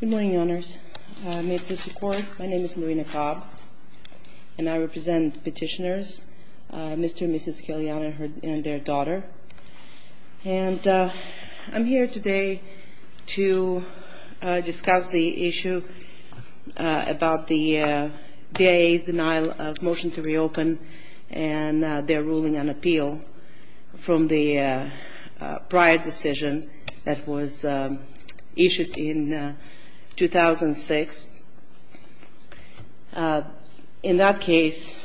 Good morning, Your Honors. I make this report. My name is Marina Cobb, and I represent petitioners, Mr. and Mrs. Kyolyan and their daughter. And I'm here today to discuss the issue about the BIA's denial of motion to reopen and their ruling on appeal from the prior decision that was issued in 2006. In that case,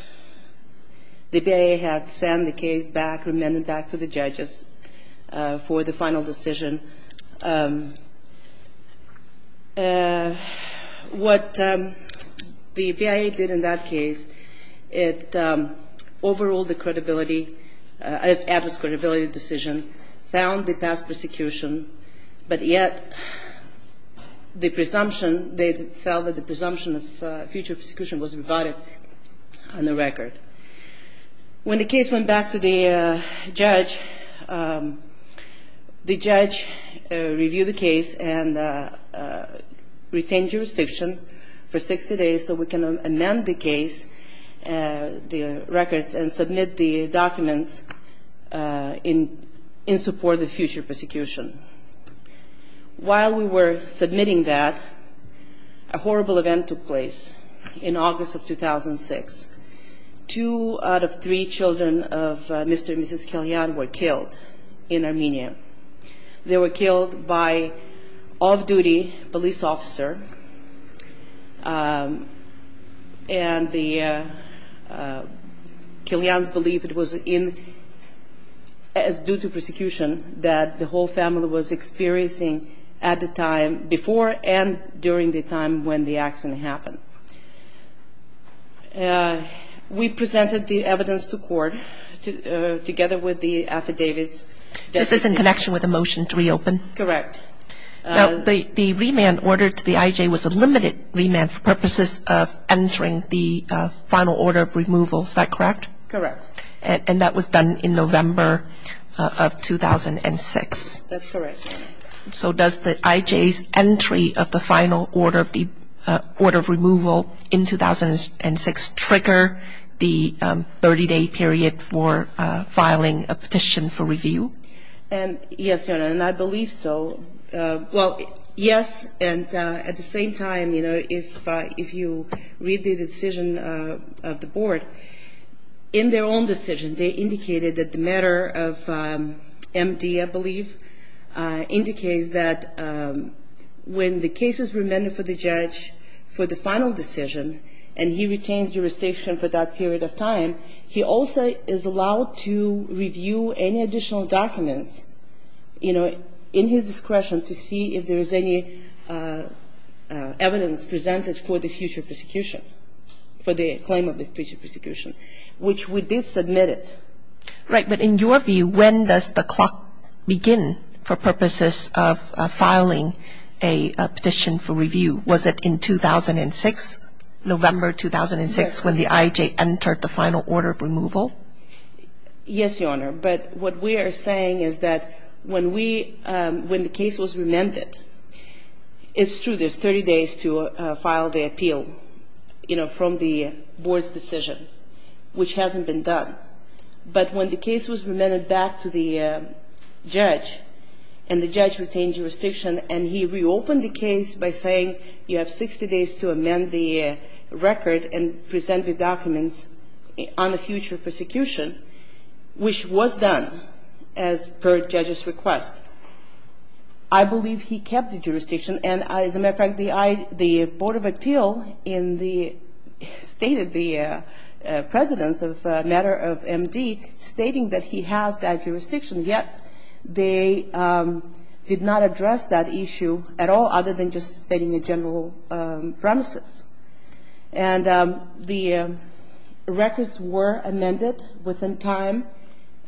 the BIA had sent the case back, remanded back to the judges for the final decision. What the BIA did in that case, it overruled the credibility, adverse credibility decision, found the past persecution, but yet the presumption, they felt that the presumption of future persecution was rebutted on the record. When the case went back to the judge, the judge reviewed the case and retained jurisdiction for 60 days so we can amend the case, the records, and submit the documents in support of in Armenia. They were killed by off-duty police officer, and the Kyolyans believed it was due to persecution that the whole family was experiencing at the time before and during the time when the accident happened. We presented the evidence to court together with the affidavits. This is in connection with the motion to reopen? Correct. The remand order to the IJ was a limited remand for purposes of entering the final order of removal. Is that correct? Correct. And that was done in November of 2006? That's correct. So does the IJ's entry of the final order of removal in 2006 trigger the 30-day period for filing a petition for review? Yes, Your Honor, and I believe so. Well, yes, and at the same time, you know, if you read the decision of the board, in their own decision, they indicated that the matter of MD, I believe, indicates that when the case is remanded for the judge for the final decision, and he retains jurisdiction for that period of time, he also is allowed to review any additional documents, you know, in his discretion to see if there is any evidence presented for the future persecution, for the claim of the future persecution, which we did submit it. Right, but in your view, when does the clock begin for purposes of filing a petition for review? Was it in 2006, November 2006, when the IJ entered the final order of removal? Yes, Your Honor, but what we are saying is that when we, when the case was remanded, it's true there's 30 days to file the appeal, you know, from the board's decision, which hasn't been done. But when the case was remanded back to the judge, and the judge retained jurisdiction, and he reopened the case by saying you have 60 days to amend the record and present the documents on the future persecution, which was done as per judge's request, I believe he kept the jurisdiction. And as a matter of fact, the I, the Board of Appeal in the, stated the precedence of matter of MD, stating that he has that jurisdiction, yet they did not address that issue at all other than just stating the general premises. And the records were amended within time,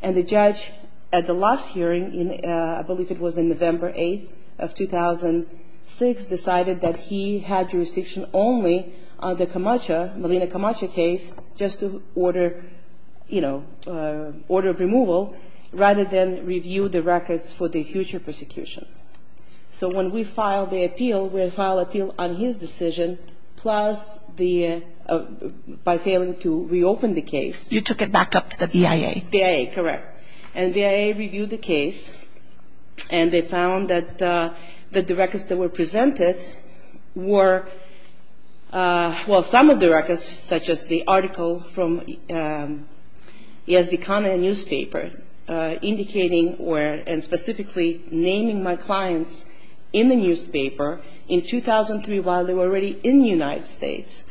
and the judge at the last hearing in, I believe it was in November 8th of 2006, decided that he had jurisdiction only on the Camacha, Malina Camacha case, just to order, you know, order of removal, rather than review the records for the future persecution. So when we file the appeal, we file appeal on his decision, plus the, by failing to reopen the case. You took it back up to the BIA. BIA, correct. And BIA reviewed the case, and they found that the records that were presented were, well, some of the records, such as the article from Yazdekana newspaper, indicating where, and specifically naming my clients in the newspaper in 2003 while they were already in the United States.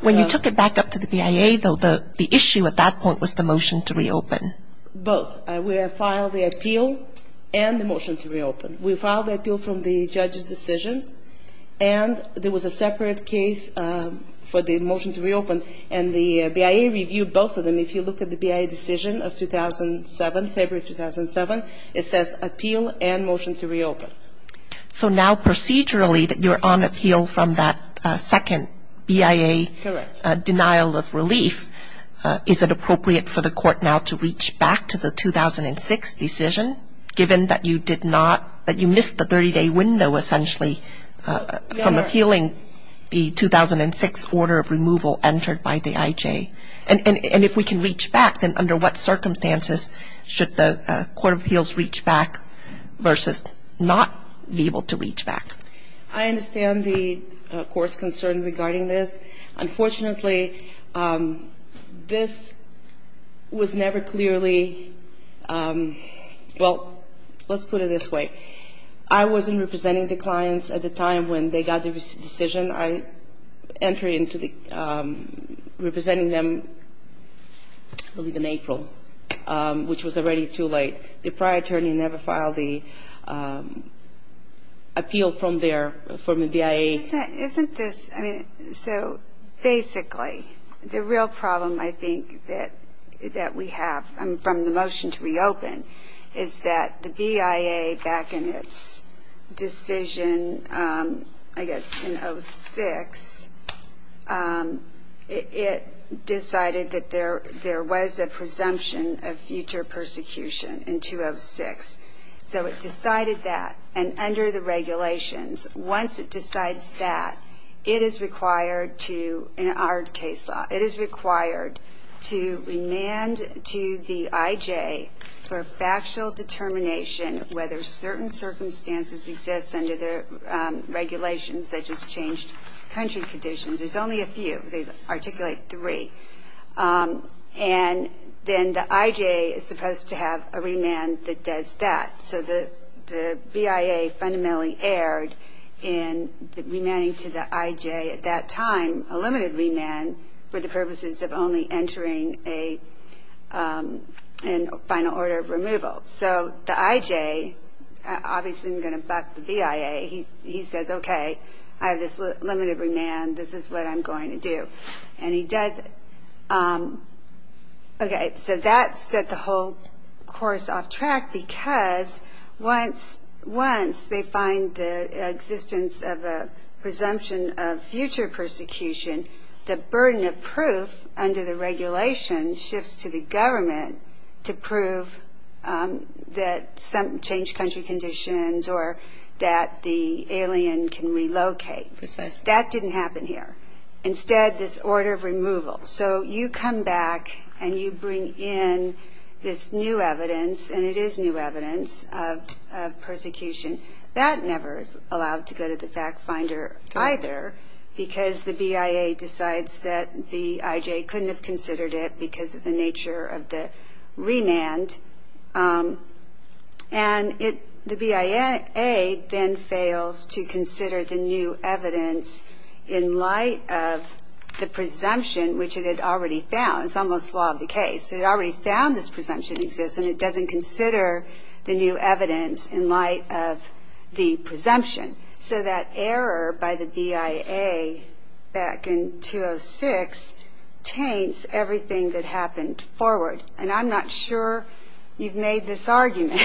When you took it back up to the BIA, though, the issue at that point was the motion to reopen. Both. We have filed the appeal and the motion to reopen. We filed the appeal from the judge's decision, and there was a separate case for the motion to reopen, and the BIA reviewed both of them. If you look at the BIA decision of 2007, February 2007, it says appeal and motion to reopen. So now procedurally that you're on appeal from that second BIA. Correct. Denial of relief, is it appropriate for the court now to reach back to the 2006 decision, given that you did not, that you missed the 30-day window, essentially, from appealing the 2006 order of removal entered by the IJ? And if we can reach back, then under what circumstances should the court of appeals reach back versus not be able to reach back? I understand the court's concern regarding this. Unfortunately, this was never clearly, well, let's put it this way. I wasn't representing the clients at the time when they got the decision. I entered into representing them, I believe, in April, which was already too late. The prior attorney never filed the appeal from their, from the BIA. Isn't this, I mean, so basically the real problem, I think, that we have from the motion to reopen is that the BIA back in its decision, I guess, in 2006, it decided that there was a presumption of future persecution in 2006. So it decided that, and under the regulations, once it decides that, it is required to, in our case law, it is required to remand to the IJ for factual determination whether certain circumstances exist under the regulations that just changed country conditions. There's only a few. They articulate three. And then the IJ is supposed to have a remand that does that. So the BIA fundamentally erred in remanding to the IJ at that time a limited remand for the purposes of only entering a final order of removal. So the IJ obviously isn't going to buck the BIA. He says, okay, I have this limited remand. This is what I'm going to do. And he does, okay, so that set the whole course off track because once they find the existence of a presumption of future persecution, the burden of proof under the regulations shifts to the government to prove that some changed country conditions or that the alien can relocate. That didn't happen here. Instead, this order of removal. So you come back and you bring in this new evidence, and it is new evidence of persecution. That never is allowed to go to the fact finder either because the BIA decides that the IJ couldn't have considered it because of the nature of the remand. And the BIA then fails to consider the new evidence in light of the presumption, which it had already found. It already found this presumption exists, and it doesn't consider the new evidence in light of the presumption. So that error by the BIA back in 2006 taints everything that happened forward. And I'm not sure you've made this argument,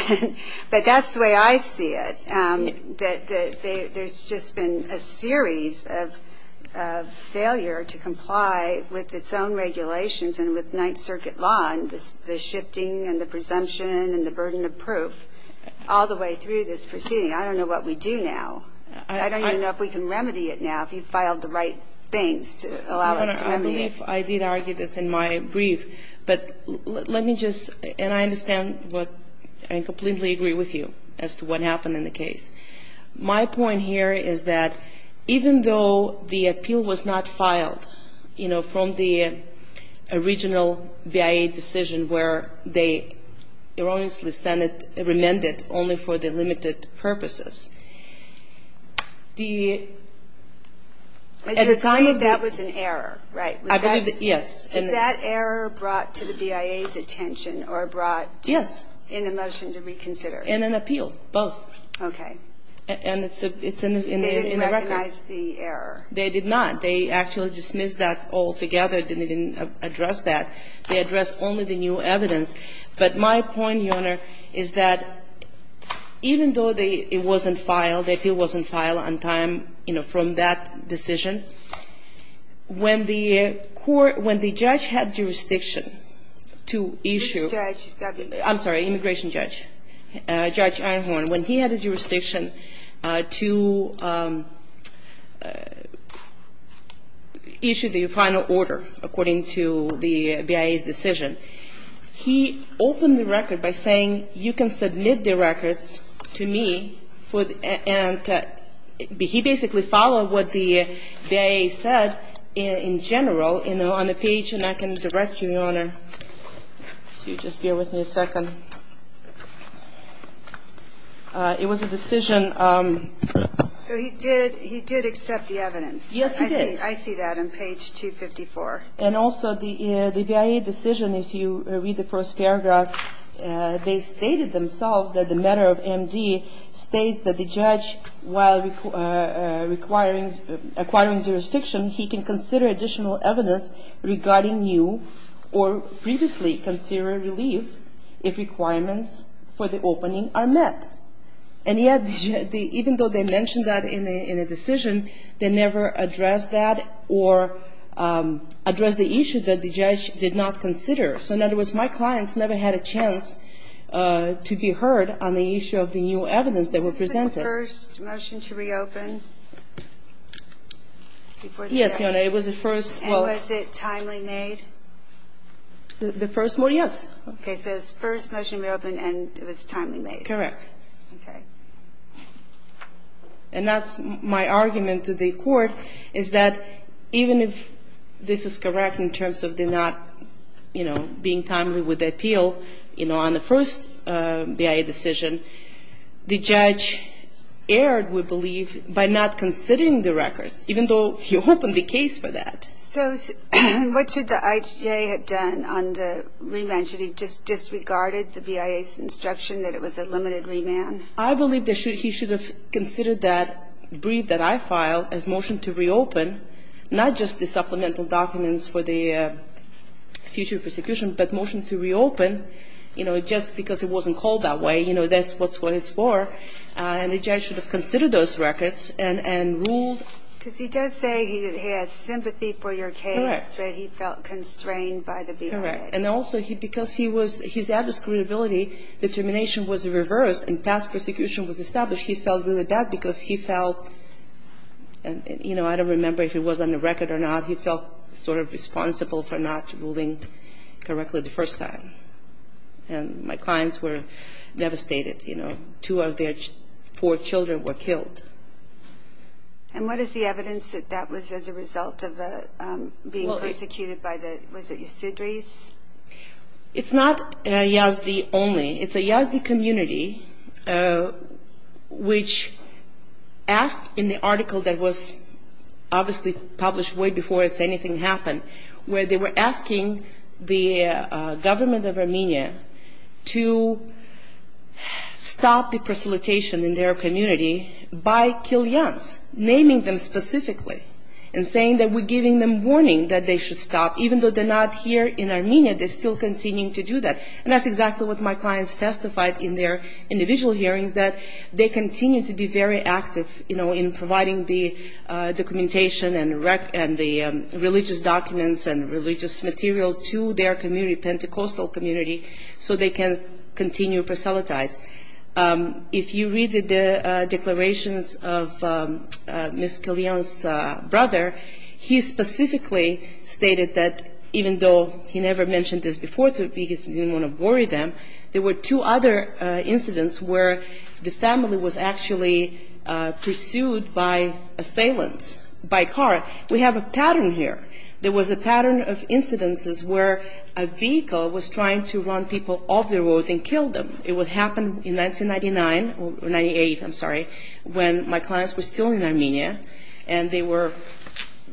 but that's the way I see it. There's just been a series of failure to comply with its own regulations and with Ninth Circuit law and the shifting and the presumption and the burden of proof all the way through this proceeding. I don't know what we do now. I don't even know if we can remedy it now, if you filed the right things to allow us to remedy it. I believe I did argue this in my brief. But let me just, and I understand what, I completely agree with you as to what happened in the case. My point here is that even though the appeal was not filed, you know, from the original BIA decision where they erroneously remanded only for the limited purposes, the at the time of the. That was an error, right? I believe that, yes. Is that error brought to the BIA's attention or brought. Yes. In a motion to reconsider. In an appeal, both. And it's in the record. They didn't recognize the error. They did not. They actually dismissed that altogether, didn't even address that. They addressed only the new evidence. But my point, Your Honor, is that even though it wasn't filed, the appeal wasn't filed on time, you know, from that decision, when the court, when the judge had jurisdiction to issue. Immigration judge. I'm sorry. Immigration judge. Judge Einhorn. When he had the jurisdiction to issue the final order according to the BIA's decision, he opened the record by saying you can submit the records to me for, and he basically followed what the BIA's decision and what the BIA said in general on the page, and I can direct you, Your Honor. If you just bear with me a second. It was a decision. So he did accept the evidence. Yes, he did. I see that on page 254. And also the BIA decision, if you read the first paragraph, they stated themselves that the matter of MD states that the judge, while acquiring jurisdiction, he can consider additional evidence regarding new or previously considered relief if requirements for the opening are met. And yet, even though they mentioned that in a decision, they never addressed that or addressed the issue that the judge did not consider. So in other words, my clients never had a chance to be heard on the issue of the new evidence that was presented. Was this the first motion to reopen? Yes, Your Honor. It was the first. And was it timely made? The first one, yes. Okay. So it was the first motion to reopen, and it was timely made. Correct. Okay. And that's my argument to the Court, is that even if this is correct in terms of the not, you know, being timely with the appeal, you know, on the first BIA decision, the judge erred, we believe, by not considering the records, even though he opened the case for that. So what should the IHA have done on the remand? Should he have just disregarded the BIA's instruction that it was a limited remand? I believe that he should have considered that brief that I filed as motion to reopen, not just the supplemental documents for the future prosecution, but motion to reopen, you know, just because it wasn't called that way, you know, that's what it's for. And the judge should have considered those records and ruled. Because he does say he has sympathy for your case. Correct. But he felt constrained by the BIA. Correct. And also, because he was, his address credibility determination was reversed and past prosecution was established, he felt really bad because he felt, you know, I don't remember if it was on the record or not, he felt sort of responsible for not ruling correctly the first time. And my clients were devastated, you know. Two of their four children were killed. And what is the evidence that that was as a result of being persecuted by the, was it the Sidris? It's not Yazdi only. It's a Yazdi community which asked in the article that was obviously published way before anything happened, where they were asking the government of Armenia to stop the persecution in their community by Kylians, naming them specifically, and saying that we're giving them warning that they should stop. Even though they're not here in Armenia, they're still continuing to do that. And that's exactly what my clients testified in their individual hearings, that they continue to be very active, you know, in providing the documentation and the religious documents and religious material to their community, Pentecostal community, so they can continue to proselytize. If you read the declarations of Ms. Kylians' brother, he specifically stated that even though he never mentioned this before, because he didn't want to worry them, there were two other incidents where the family was actually pursued by assailants, by car. We have a pattern here. There was a pattern of incidences where a vehicle was trying to run people off the road and kill them. It would happen in 1999 or 98, I'm sorry, when my clients were still in Armenia and they were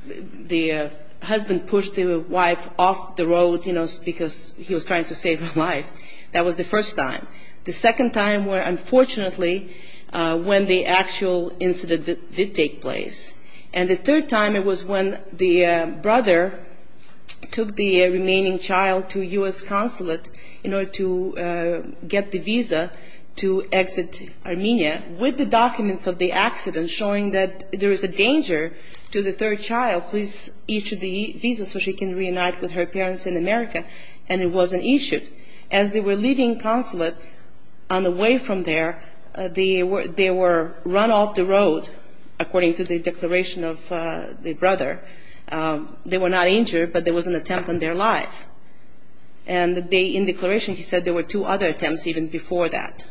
the husband pushed the wife off the road, you know, because he was trying to save her life. That was the first time. The second time were unfortunately when the actual incident did take place. And the third time it was when the brother took the remaining child to U.S. consulate in order to get the visa to exit Armenia, with the documents of the accident showing that there is a danger to the third child, please issue the visa so she can reunite with her parents in America, and it wasn't issued. As they were leaving consulate on the way from there, they were run off the road, according to the declaration of the brother. They were not injured, but there was an attempt on their life. And the day in declaration he said there were two other attempts even before that.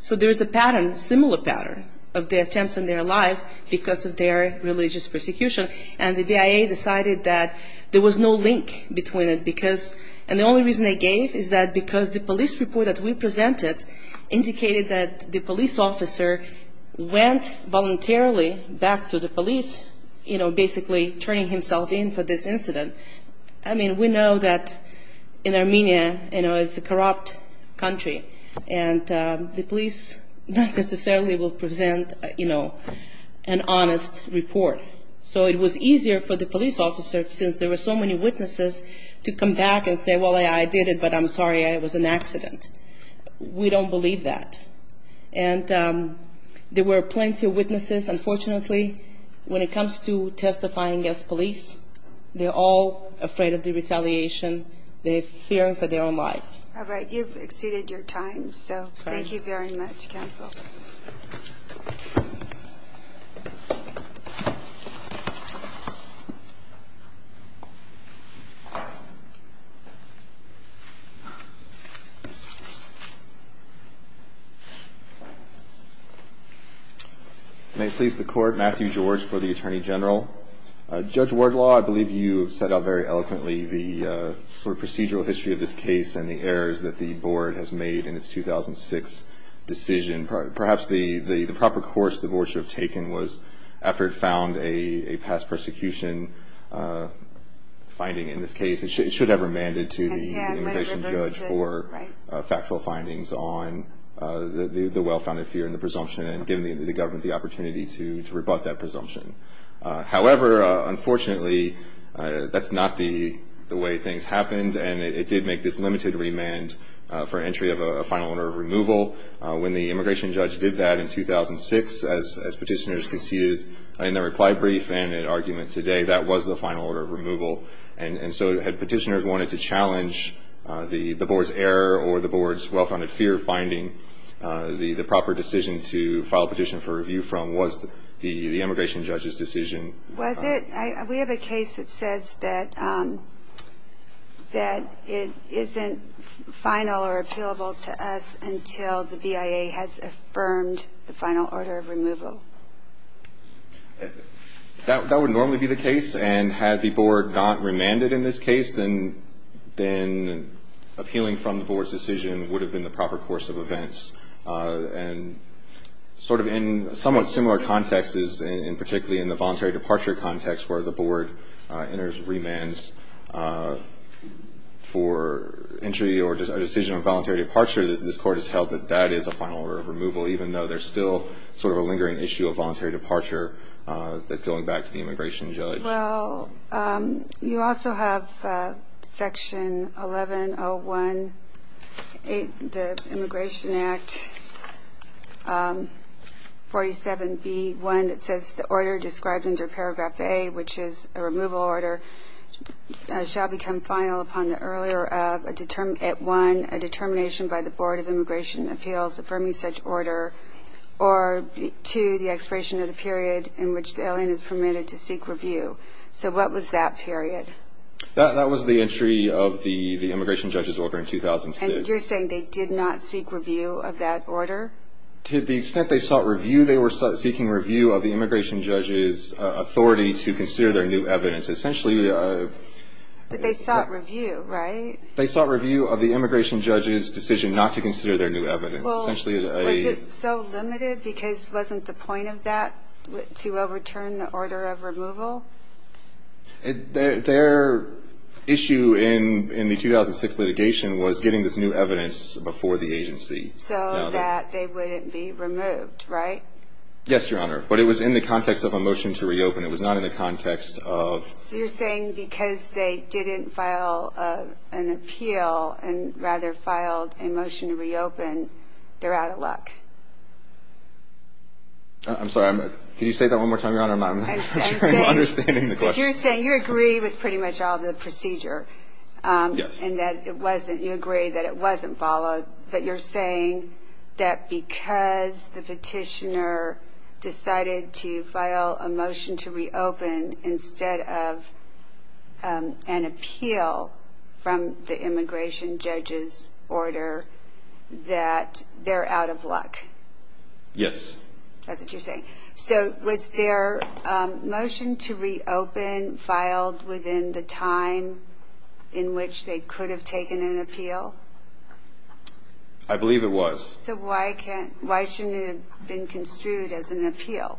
So there is a pattern, similar pattern, of the attempts on their life because of their religious persecution. And the BIA decided that there was no link between it because, and the only reason they gave is that because the police report that we presented indicated that the police officer went voluntarily back to the police, you know, basically turning himself in for this incident. I mean, we know that in Armenia, you know, it's a corrupt country, and the police not necessarily will present, you know, an honest report. So it was easier for the police officer, since there were so many witnesses, to come back and say, well, I did it, but I'm sorry, it was an accident. We don't believe that. And there were plenty of witnesses, unfortunately, when it comes to testifying against police, they're all afraid of the retaliation. They fear for their own life. All right. You've exceeded your time, so thank you very much, counsel. May it please the Court, Matthew George for the Attorney General. Judge Wardlaw, I believe you have set out very eloquently the sort of procedural history of this case and the errors that the Board has made in its 2006 decision. Perhaps the proper course the Board should have taken was, after it found a past persecution finding in this case, it should have remanded to the immigration judge for factual findings on the well-founded fear and the presumption and given the government the opportunity to rebut that presumption. However, unfortunately, that's not the way things happened, and it did make this limited remand for entry of a final order of removal. When the immigration judge did that in 2006, as petitioners conceded in their reply brief and in argument today, that was the final order of removal. And so had petitioners wanted to challenge the Board's error or the Board's well-founded fear finding, the proper decision to file a petition for review from was the immigration judge's decision. Was it? We have a case that says that it isn't final or appealable to us until the BIA has affirmed the final order of removal. That would normally be the case, and had the Board not remanded in this case, then appealing from the Board's decision would have been the proper course of events. And sort of in somewhat similar contexts, and particularly in the voluntary departure context, where the Board enters remands for entry or a decision on voluntary departure, this Court has held that that is a final order of removal, even though there's still sort of a lingering issue of voluntary departure that's going back to the immigration judge. Well, you also have Section 1101A of the Immigration Act, 47B1, that says the order described under Paragraph A, which is a removal order, shall become final upon the earlier of, at one, a determination by the Board of Immigration Appeals affirming such order, or, two, the expiration of the period in which the alien is permitted to seek review. So what was that period? That was the entry of the immigration judge's order in 2006. And you're saying they did not seek review of that order? To the extent they sought review, they were seeking review of the immigration judge's authority to consider their new evidence. Essentially... But they sought review, right? They sought review of the immigration judge's decision not to consider their new evidence. Well, was it so limited because it wasn't the point of that to overturn the order of removal? Their issue in the 2006 litigation was getting this new evidence before the agency. So that they wouldn't be removed, right? Yes, Your Honor. But it was in the context of a motion to reopen. It was not in the context of... So you're saying because they didn't file an appeal, and rather filed a motion to reopen, they're out of luck? I'm sorry. Could you say that one more time, Your Honor? I'm not sure I'm understanding the question. You're saying you agree with pretty much all the procedure. Yes. And that it wasn't, you agree that it wasn't followed. But you're saying that because the petitioner decided to file a motion to reopen instead of an appeal from the immigration judge's order, that they're out of luck? Yes. So was their motion to reopen filed within the time in which they could have taken an appeal? I believe it was. So why shouldn't it have been construed as an appeal?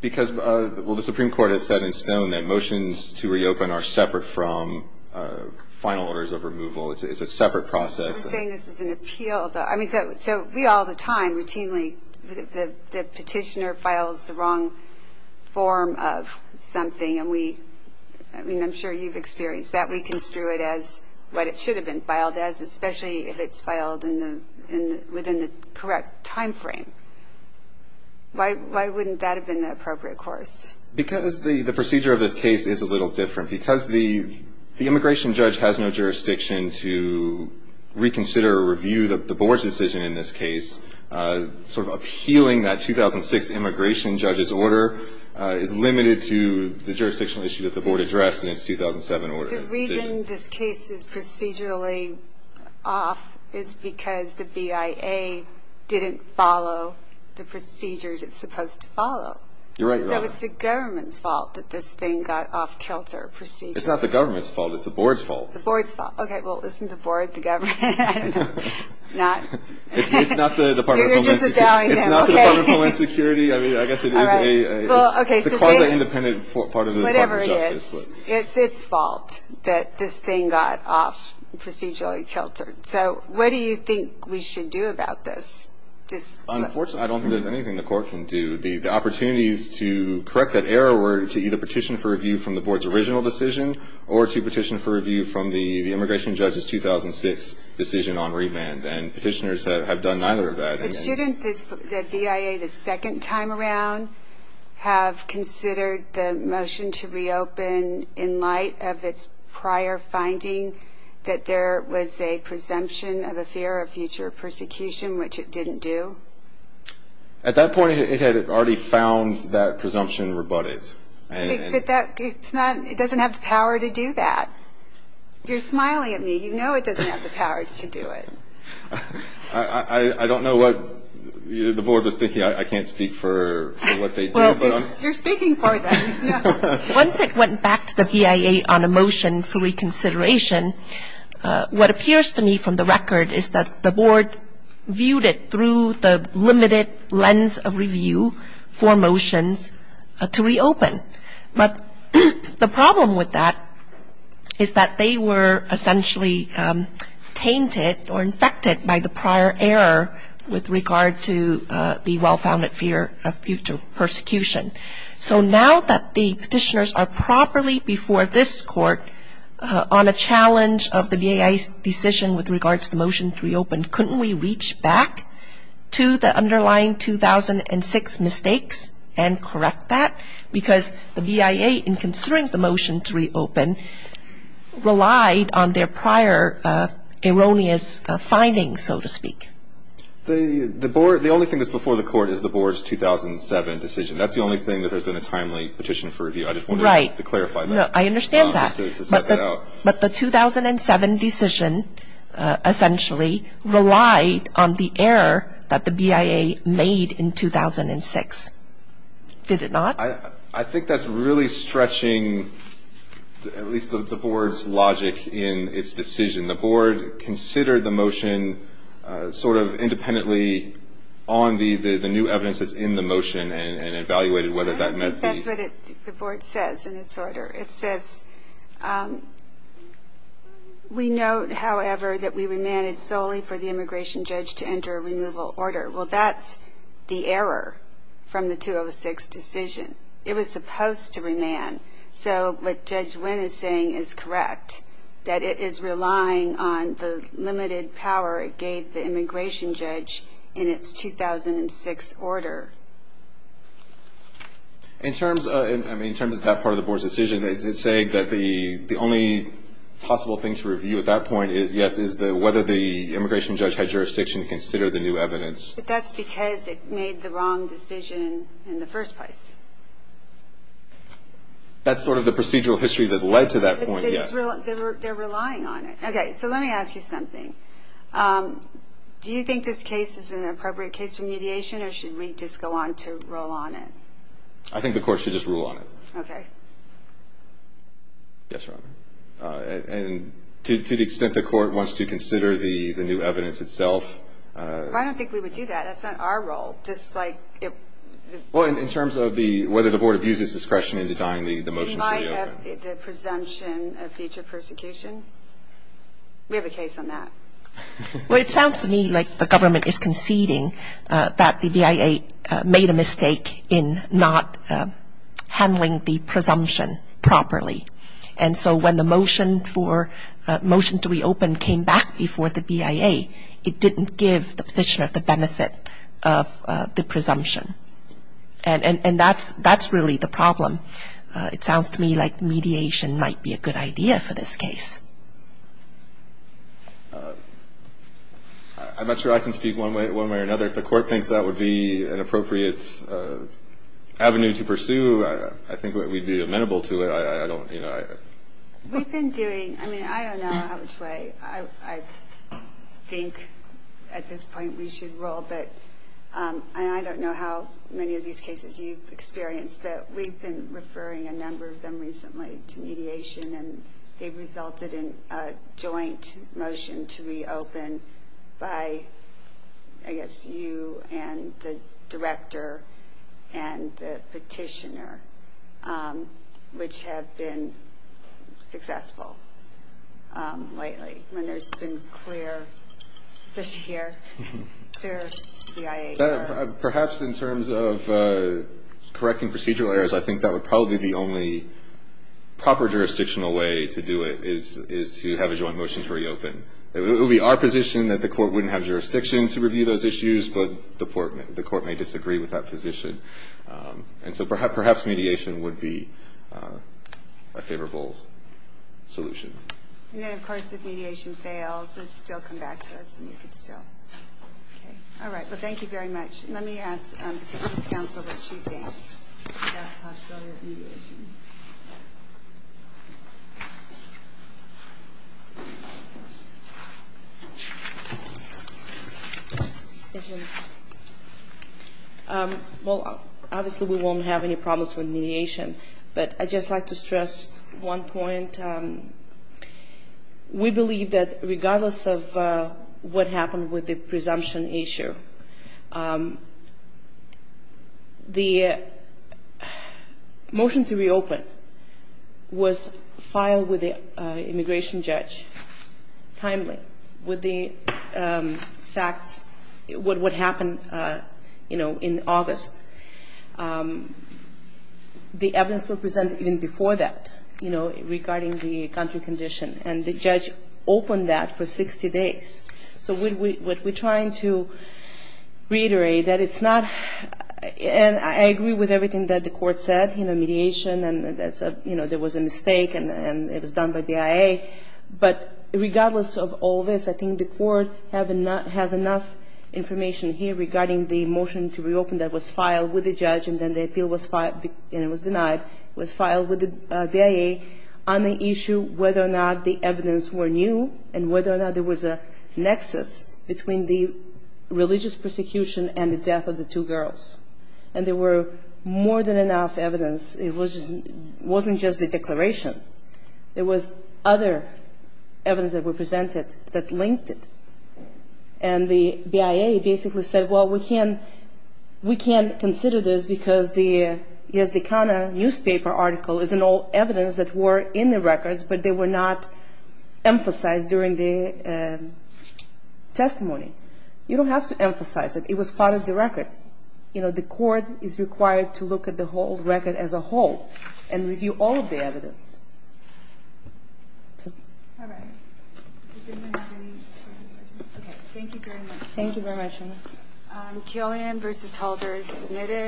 Because, well, the Supreme Court has said in stone that motions to reopen are separate from final orders of removal. It's a separate process. You're saying this is an appeal. So we all the time routinely, the petitioner files the wrong form of something, and we, I mean, I'm sure you've experienced that. We construe it as what it should have been filed as, especially if it's filed within the correct time frame. Why wouldn't that have been the appropriate course? Because the procedure of this case is a little different. Because the immigration judge has no jurisdiction to reconsider or review the board's decision in this case, sort of appealing that 2006 immigration judge's order is limited to the jurisdictional issue that the board addressed in its 2007 order. The reason this case is procedurally off is because the BIA didn't follow the procedures it's supposed to follow. You're right about that. So it's the government's fault that this thing got off-kilter procedurally. It's not the government's fault. It's the board's fault. The board's fault. Okay. Well, isn't the board the government? I don't know. Not? It's not the Department of Homeland Security. It's not the Department of Homeland Security. I mean, I guess it is a quasi-independent part of the Department of Justice. Whatever it is, it's its fault that this thing got off procedurally kilter. So what do you think we should do about this? Unfortunately, I don't think there's anything the court can do. The opportunities to correct that error were to either petition for review from the board's original decision or to petition for review from the immigration judge's 2006 decision on remand. And petitioners have done neither of that. But shouldn't the BIA the second time around have considered the motion to reopen in light of its prior finding that there was a presumption of a fear of future persecution, which it didn't do? At that point, it had already found that presumption rebutted. But it doesn't have the power to do that. You're smiling at me. You know it doesn't have the power to do it. I don't know what the board was thinking. I can't speak for what they do. Well, you're speaking for them. Once it went back to the BIA on a motion for reconsideration, what appears to me from the record is that the board viewed it through the limited lens of review for motions to reopen. But the problem with that is that they were essentially tainted or infected by the prior error with regard to the well-founded fear of future persecution. So now that the petitioners are properly before this court on a challenge of the BIA's decision with regard to the motion to reopen, couldn't we reach back to the underlying 2006 mistakes and correct that? Because the BIA, in considering the motion to reopen, relied on their prior erroneous findings, so to speak. The only thing that's before the court is the board's 2007 decision. That's the only thing that there's been a timely petition for review. I just wanted to clarify that. Right. I understand that. But the 2007 decision essentially relied on the error that the BIA made in 2006. Did it not? I think that's really stretching at least the board's logic in its decision. The board considered the motion sort of independently on the new evidence that's in the motion and evaluated whether that meant the ---- That's what the board says in its order. It says, we note, however, that we remanded solely for the immigration judge to enter a removal order. Well, that's the error from the 2006 decision. It was supposed to remand. So what Judge Wynn is saying is correct, that it is relying on the limited power it gave the immigration judge in its 2006 order. In terms of that part of the board's decision, is it saying that the only possible thing to review at that point is, yes, is whether the immigration judge had jurisdiction to consider the new evidence? But that's because it made the wrong decision in the first place. That's sort of the procedural history that led to that point, yes. They're relying on it. Okay. So let me ask you something. Do you think this case is an appropriate case for mediation or should we just go on to roll on it? I think the court should just rule on it. Okay. Yes, Your Honor. And to the extent the court wants to consider the new evidence itself ---- I don't think we would do that. That's not our role. Just like if ---- Well, in terms of whether the board abuses discretion in denying the motion to reopen. It might have the presumption of future persecution. We have a case on that. Well, it sounds to me like the government is conceding that the BIA made a mistake in not handling the presumption properly. And so when the motion to reopen came back before the BIA, it didn't give the petitioner the benefit of the presumption. And that's really the problem. It sounds to me like mediation might be a good idea for this case. I'm not sure I can speak one way or another. If the court thinks that would be an appropriate avenue to pursue, I think we'd be amenable to it. We've been doing ---- I mean, I don't know which way I think at this point we should roll. But I don't know how many of these cases you've experienced, but we've been referring a number of them recently to mediation. And they resulted in a joint motion to reopen by, I guess, you and the director and the petitioner, which have been successful lately. I mean, there's been clear ---- is this here? Clear BIA here. Perhaps in terms of correcting procedural errors, I think that would probably be the only proper jurisdictional way to do it is to have a joint motion to reopen. It would be our position that the court wouldn't have jurisdiction to review those issues, but the court may disagree with that position. And so perhaps mediation would be a favorable solution. And then, of course, if mediation fails, it would still come back to us, and you could still ---- Okay. All right. Well, thank you very much. Let me ask the defense counsel what she thinks about the possibility of mediation. Well, obviously we won't have any problems with mediation, but I'd just like to stress one point. We believe that regardless of what happened with the presumption issue, the motion to reopen was filed with the immigration judge timely with the facts, what happened in August. The evidence was presented even before that, you know, regarding the country condition. And the judge opened that for 60 days. So what we're trying to reiterate, that it's not ---- and I agree with everything that the court said, you know, mediation, and that's a ---- you know, there was a mistake, and it was done by BIA. But regardless of all this, I think the court has enough information here regarding the motion to reopen that was filed with the judge, and then the appeal was filed, and it was denied, was filed with the BIA on the issue whether or not the evidence were new and whether or not there was a nexus between the religious persecution and the death of the two girls. And there were more than enough evidence. It wasn't just the declaration. There was other evidence that were presented that linked it. And the BIA basically said, well, we can't consider this because the Yazdekana newspaper article is an old evidence that were in the records, but they were not emphasized during the testimony. You don't have to emphasize it. It was part of the record. You know, the court is required to look at the whole record as a whole and review all of the evidence. All right. Does anyone have any further questions? Okay. Thank you very much. Thank you very much.